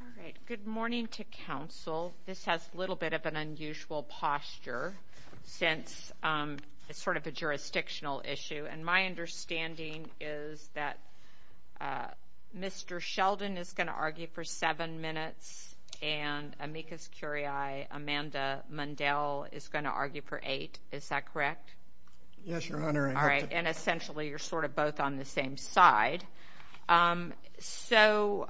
All right, good morning to Council. This has a little bit of an unusual posture since it's sort of a jurisdictional issue. And my understanding is that Mr. Sheldon is going to argue for seven minutes and Amicus Curiae, Amanda Mundell, is going to argue for eight. Is that correct? Yes, Your Honor. All right. And essentially, you're sort of both on the same side. So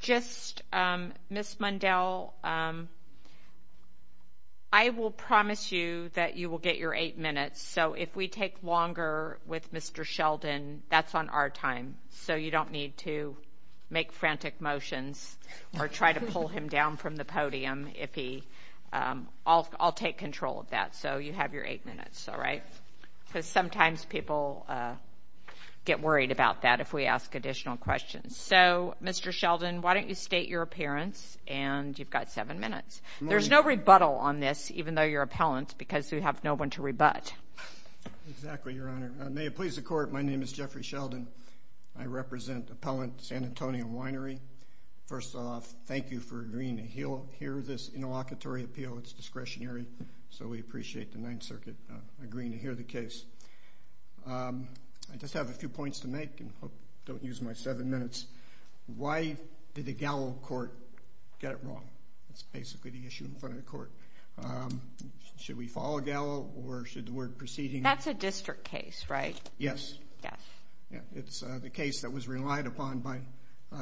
just, Ms. Mundell, I will promise you that you will get your eight minutes. So if we take longer with Mr. Sheldon, that's on our time. So you don't need to make frantic motions or try to pull him down from the podium if he – I'll take control of that. So you have your eight minutes, all right? Because sometimes people get worried about that if we ask additional questions. So Mr. Sheldon, why don't you state your appearance, and you've got seven minutes. There's no rebuttal on this, even though you're appellant, because we have no one to rebut. Exactly, Your Honor. May it please the Court, my name is Jeffrey Sheldon. I represent Appellant San Antonio Winery. First off, thank you for agreeing to hear this interlocutory appeal. It's discretionary, so we appreciate the Ninth Circuit agreeing to hear the case. I just have a few points to make, and I hope I don't use my seven minutes. Why did the Gallo court get it wrong? That's basically the issue in front of the court. Should we follow Gallo, or should the word proceeding – That's a district case, right? Yes. Yes. It's the case that was relied upon by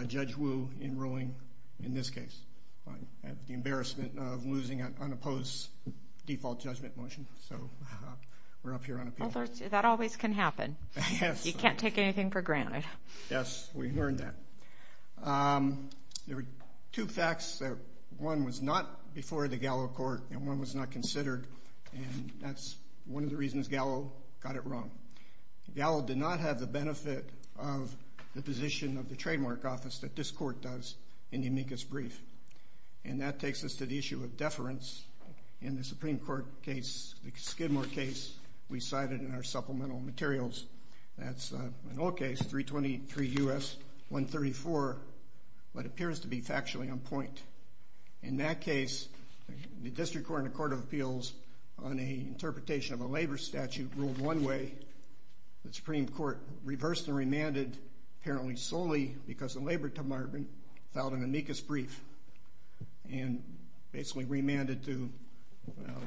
Judge Wu in ruling, in this case, the embarrassment of losing an unopposed default judgment motion. So we're up here on appeal. That always can happen. Yes. You can't take anything for granted. Yes, we learned that. There were two facts. One was not before the Gallo court, and one was not considered, and that's one of the reasons Gallo got it wrong. Gallo did not have the benefit of the position of the trademark office that this court does in the amicus brief. And that takes us to the issue of deference in the Supreme Court case, the Skidmore case we cited in our supplemental materials. That's an old case, 323 U.S. 134, but it appears to be factually on point. In that case, the district court and the court of appeals, on an interpretation of a labor statute, ruled one way, the Supreme Court reversed and remanded, apparently solely because the labor department filed an amicus brief, and basically remanded to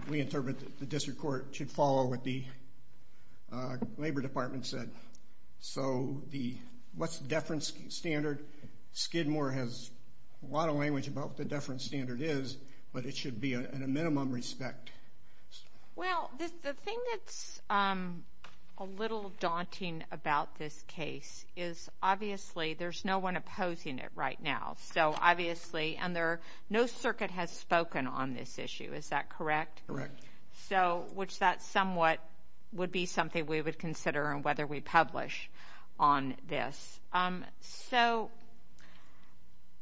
reinterpret that the district court should follow what the labor department said. So what's the deference standard? Skidmore has a lot of language about what the deference standard is, but it should be in a minimum respect. Well, the thing that's a little daunting about this case is, obviously, there's no one at the Supreme Court opposing it right now. So obviously, and no circuit has spoken on this issue. Is that correct? Correct. So, which that somewhat would be something we would consider on whether we publish on this. So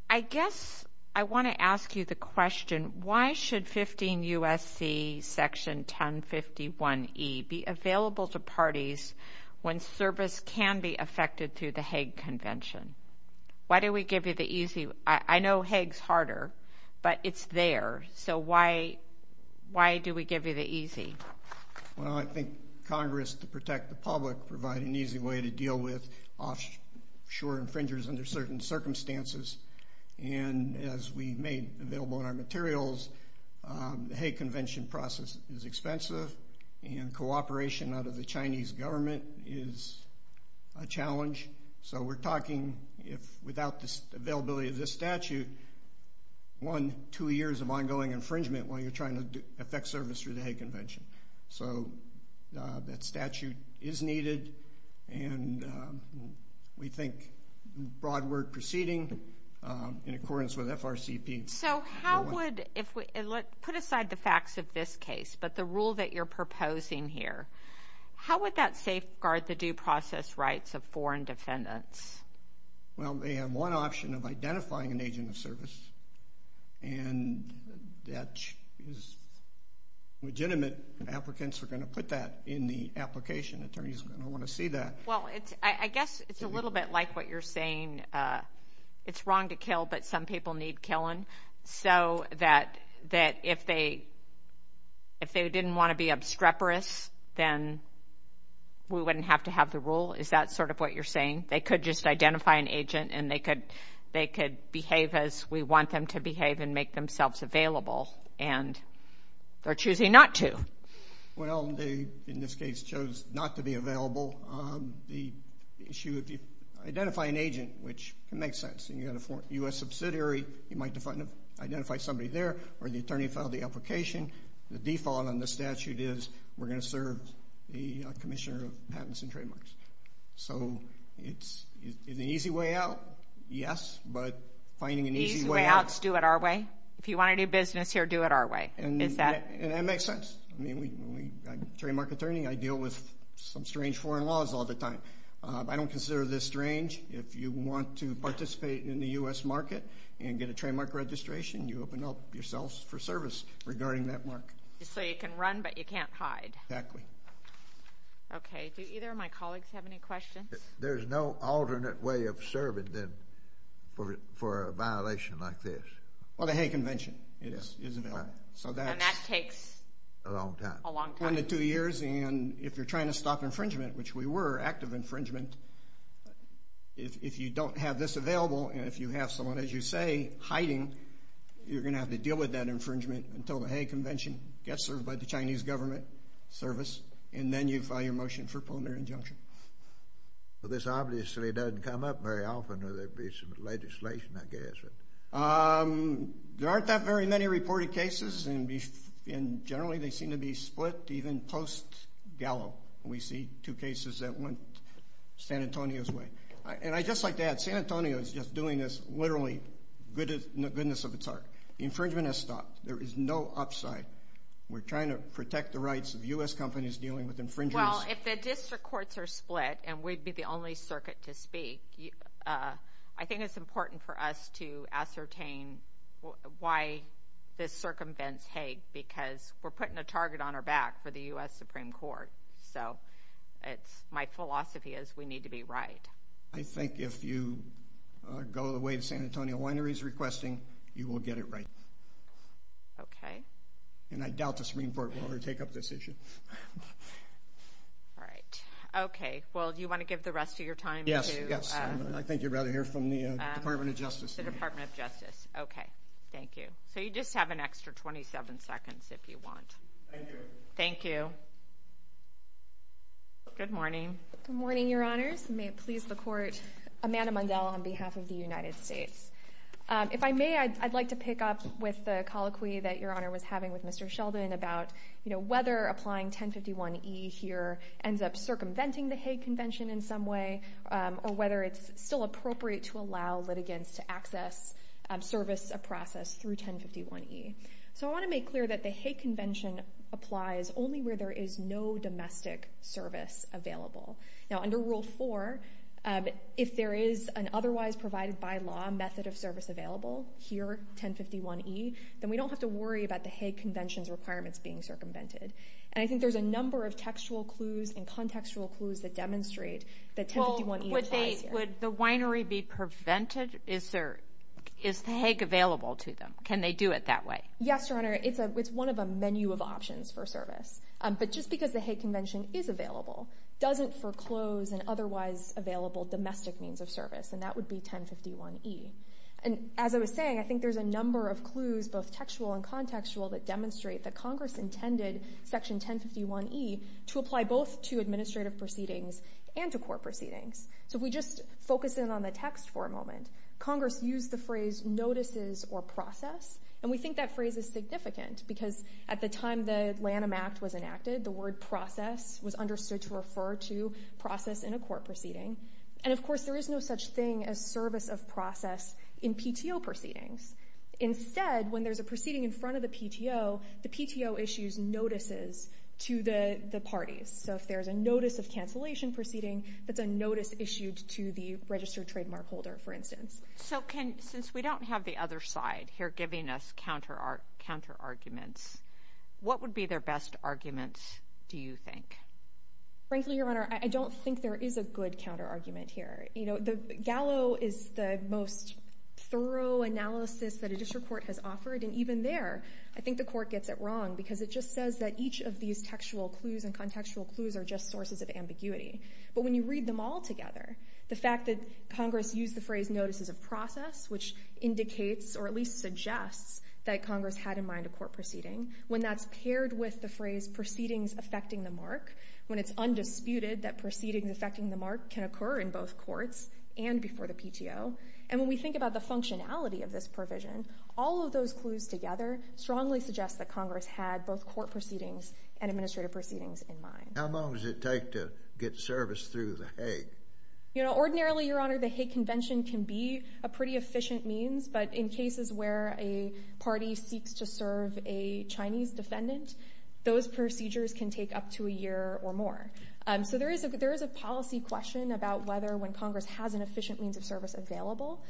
I guess I want to ask you the question, why should 15 U.S.C. section 1051E be available to parties when service can be affected through the Hague Convention? Why do we give you the easy, I know Hague's harder, but it's there, so why do we give you the easy? Well, I think Congress, to protect the public, provide an easy way to deal with offshore infringers under certain circumstances, and as we made available in our materials, the Chinese government is a challenge. So we're talking, without the availability of this statute, one, two years of ongoing infringement while you're trying to affect service through the Hague Convention. So that statute is needed, and we think broad word proceeding in accordance with FRCP. So how would, put aside the facts of this case, but the rule that you're proposing here, how would that safeguard the due process rights of foreign defendants? Well, they have one option of identifying an agent of service, and that is legitimate. Applicants are going to put that in the application. Attorneys are going to want to see that. Well, I guess it's a little bit like what you're saying, it's wrong to kill, but some people need killing, so that if they didn't want to be obstreperous, then we wouldn't have to have the rule? Is that sort of what you're saying? They could just identify an agent, and they could behave as we want them to behave and make themselves available, and they're choosing not to. Well, they, in this case, chose not to be available. The issue, if you identify an agent, which can make sense, and you have a U.S. subsidiary, you might identify somebody there, or the attorney filed the application. The default on the statute is we're going to serve the commissioner of patents and trademarks. So it's an easy way out, yes, but finding an easy way out. Easy way out, do it our way? If you want to do business here, do it our way. Is that? And that makes sense. I mean, I'm a trademark attorney. I deal with some strange foreign laws all the time. I don't consider this strange. If you want to participate in the U.S. market and get a trademark registration, you open up yourself for service regarding that mark. Just so you can run, but you can't hide. Exactly. Okay. Do either of my colleagues have any questions? There's no alternate way of serving, then, for a violation like this? Well, the Hague Convention is available. And that takes a long time. A long time. One to two years, and if you're trying to stop infringement, which we were, active infringement, if you don't have this available, and if you have someone, as you say, hiding, you're going to have to deal with that infringement until the Hague Convention gets served by the Chinese government service, and then you file your motion for preliminary injunction. But this obviously doesn't come up very often, or there'd be some legislation, I guess. There aren't that very many reported cases, and generally they seem to be split even post-Gallo. We see two cases that went San Antonio's way. And I'd just like to add, San Antonio is just doing this literally in the goodness of its heart. The infringement has stopped. There is no upside. We're trying to protect the rights of U.S. companies dealing with infringers. Well, if the district courts are split, and we'd be the only circuit to speak, I think it's important for us to ascertain why this circumvents Hague, because we're putting a target on our back for the U.S. Supreme Court. So it's, my philosophy is we need to be right. I think if you go the way the San Antonio winery is requesting, you will get it right. Okay. And I doubt the Supreme Court will ever take up this issue. Right. Okay. Well, do you want to give the rest of your time to... Yes, yes. Okay. I think you'd rather hear from the Department of Justice. The Department of Justice. Okay. Thank you. So you just have an extra 27 seconds if you want. Thank you. Thank you. Good morning. Good morning, Your Honors. May it please the Court, Amanda Mundell on behalf of the United States. If I may, I'd like to pick up with the colloquy that Your Honor was having with Mr. Sheldon about whether applying 1051E here ends up circumventing the Hague Convention in some way, or whether it's still appropriate to allow litigants to access service of process through 1051E. So I want to make clear that the Hague Convention applies only where there is no domestic service available. Now, under Rule 4, if there is an otherwise provided by law method of service available here, 1051E, then we don't have to worry about the Hague Convention's requirements being circumvented. And I think there's a number of textual clues and contextual clues that demonstrate that 1051E applies here. Well, would they, would the winery be prevented? Is there, is the Hague available to them? Can they do it that way? Yes, Your Honor. It's a, it's one of a menu of options for service. But just because the Hague Convention is available doesn't foreclose an otherwise available domestic means of service. And that would be 1051E. And as I was saying, I think there's a number of clues, both textual and contextual, that demonstrate that Congress intended Section 1051E to apply both to administrative proceedings and to court proceedings. So if we just focus in on the text for a moment, Congress used the phrase notices or process. And we think that phrase is significant because at the time the Lanham Act was enacted, the word process was understood to refer to process in a court proceeding. And of course, there is no such thing as service of process in PTO proceedings. Instead, when there's a proceeding in front of the PTO, the PTO issues notices to the parties. So if there's a notice of cancellation proceeding, that's a notice issued to the registered trademark holder, for instance. So can, since we don't have the other side here giving us counter arguments, what would be their best arguments, do you think? Frankly, Your Honor, I don't think there is a good counter argument here. You know, the Gallo is the most thorough analysis that a district court has offered. And even there, I think the court gets it wrong because it just says that each of these textual clues and contextual clues are just sources of ambiguity. But when you read them all together, the fact that Congress used the phrase notices of process, which indicates or at least suggests that Congress had in mind a court proceeding, when that's paired with the phrase proceedings affecting the mark, when it's undisputed that before the PTO. And when we think about the functionality of this provision, all of those clues together strongly suggest that Congress had both court proceedings and administrative proceedings in mind. How long does it take to get service through the Hague? You know, ordinarily, Your Honor, the Hague Convention can be a pretty efficient means. But in cases where a party seeks to serve a Chinese defendant, those procedures can take up to a year or more. So there is a policy question about whether when Congress has an efficient means of service available,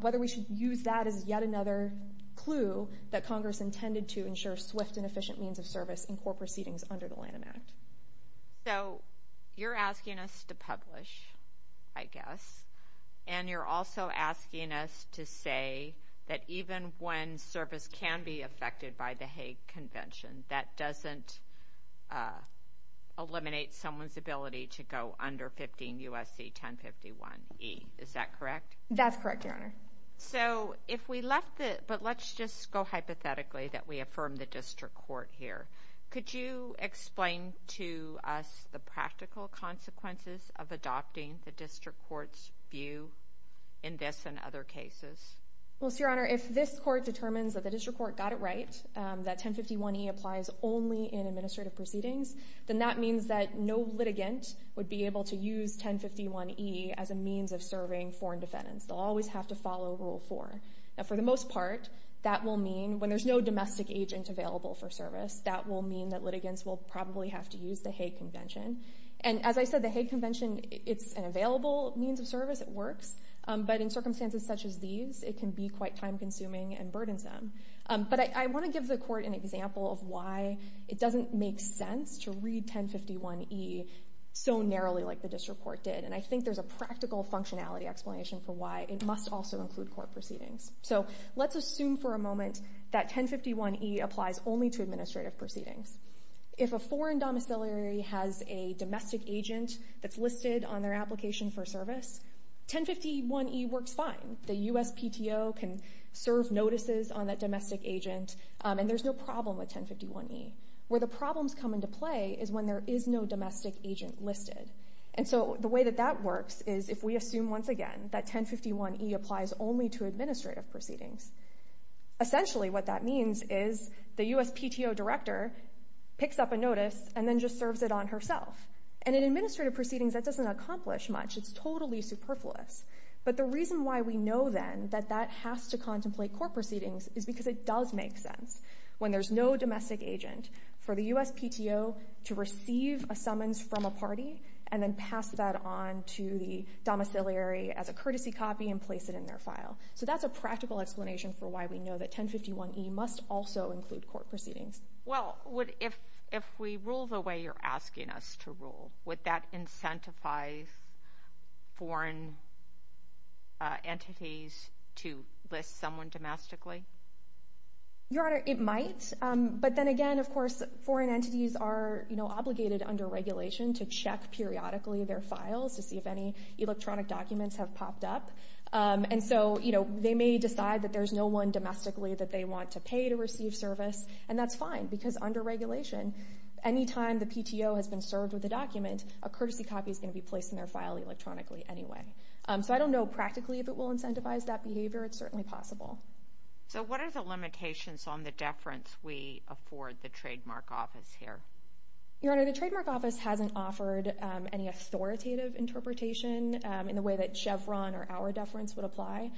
whether we should use that as yet another clue that Congress intended to ensure swift and efficient means of service in court proceedings under the Lanham Act. So you're asking us to publish, I guess. And you're also asking us to say that even when service can be affected by the Hague Convention, there is someone's ability to go under 15 U.S.C. 1051e. Is that correct? That's correct, Your Honor. So if we left it, but let's just go hypothetically that we affirm the district court here. Could you explain to us the practical consequences of adopting the district court's view in this and other cases? Well, so, Your Honor, if this court determines that the district court got it right, that no litigant would be able to use 1051e as a means of serving foreign defendants. They'll always have to follow Rule 4. Now, for the most part, that will mean when there's no domestic agent available for service, that will mean that litigants will probably have to use the Hague Convention. And as I said, the Hague Convention, it's an available means of service. It works. But in circumstances such as these, it can be quite time-consuming and burdensome. But I want to give the court an example of why it doesn't make sense to read 1051e so narrowly like the district court did. And I think there's a practical functionality explanation for why it must also include court proceedings. So let's assume for a moment that 1051e applies only to administrative proceedings. If a foreign domiciliary has a domestic agent that's listed on their application for service, 1051e works fine. The USPTO can serve notices on that domestic agent, and there's no problem with 1051e. Where the problems come into play is when there is no domestic agent listed. And so the way that that works is if we assume once again that 1051e applies only to administrative proceedings, essentially what that means is the USPTO director picks up a notice and then just serves it on herself. And in administrative proceedings, that doesn't accomplish much. It's totally superfluous. But the reason why we know then that that has to contemplate court proceedings is because it does make sense when there's no domestic agent for the USPTO to receive a summons from a party and then pass that on to the domiciliary as a courtesy copy and place it in their file. So that's a practical explanation for why we know that 1051e must also include court proceedings. Well, if we rule the way you're asking us to rule, would that incentivize foreign entities to list someone domestically? Your Honor, it might. But then again, of course, foreign entities are obligated under regulation to check periodically their files to see if any electronic documents have popped up. And so they may decide that there's no one domestically that they want to pay to receive service. And that's fine because under regulation, any time the PTO has been served with a document, a courtesy copy is going to be placed in their file electronically anyway. So I don't know practically if it will incentivize that behavior. It's certainly possible. So what are the limitations on the deference we afford the Trademark Office here? Your Honor, the Trademark Office hasn't offered any authoritative interpretation in the way that Chevron or our deference would apply.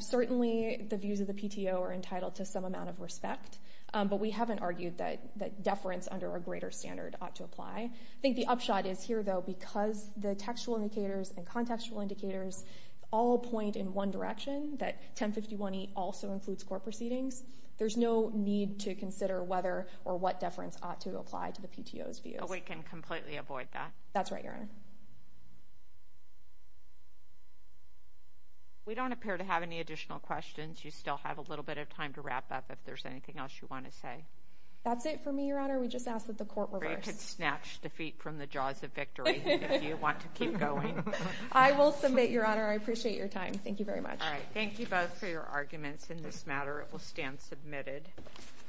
Certainly, the views of the PTO are entitled to some amount of respect. But we haven't argued that deference under a greater standard ought to apply. I think the upshot is here, though, because the textual indicators and contextual indicators all point in one direction, that 1051e also includes court proceedings. There's no need to consider whether or what deference ought to apply to the PTO's views. But we can completely avoid that? That's right, Your Honor. We don't appear to have any additional questions. You still have a little bit of time to wrap up if there's anything else you want to say. That's it for me, Your Honor. We just asked that the court reverse. Or you could snatch defeat from the jaws of victory if you want to keep going. I will submit, Your Honor. I appreciate your time. Thank you very much. All right. Thank you both for your arguments in this matter. It will stand submitted.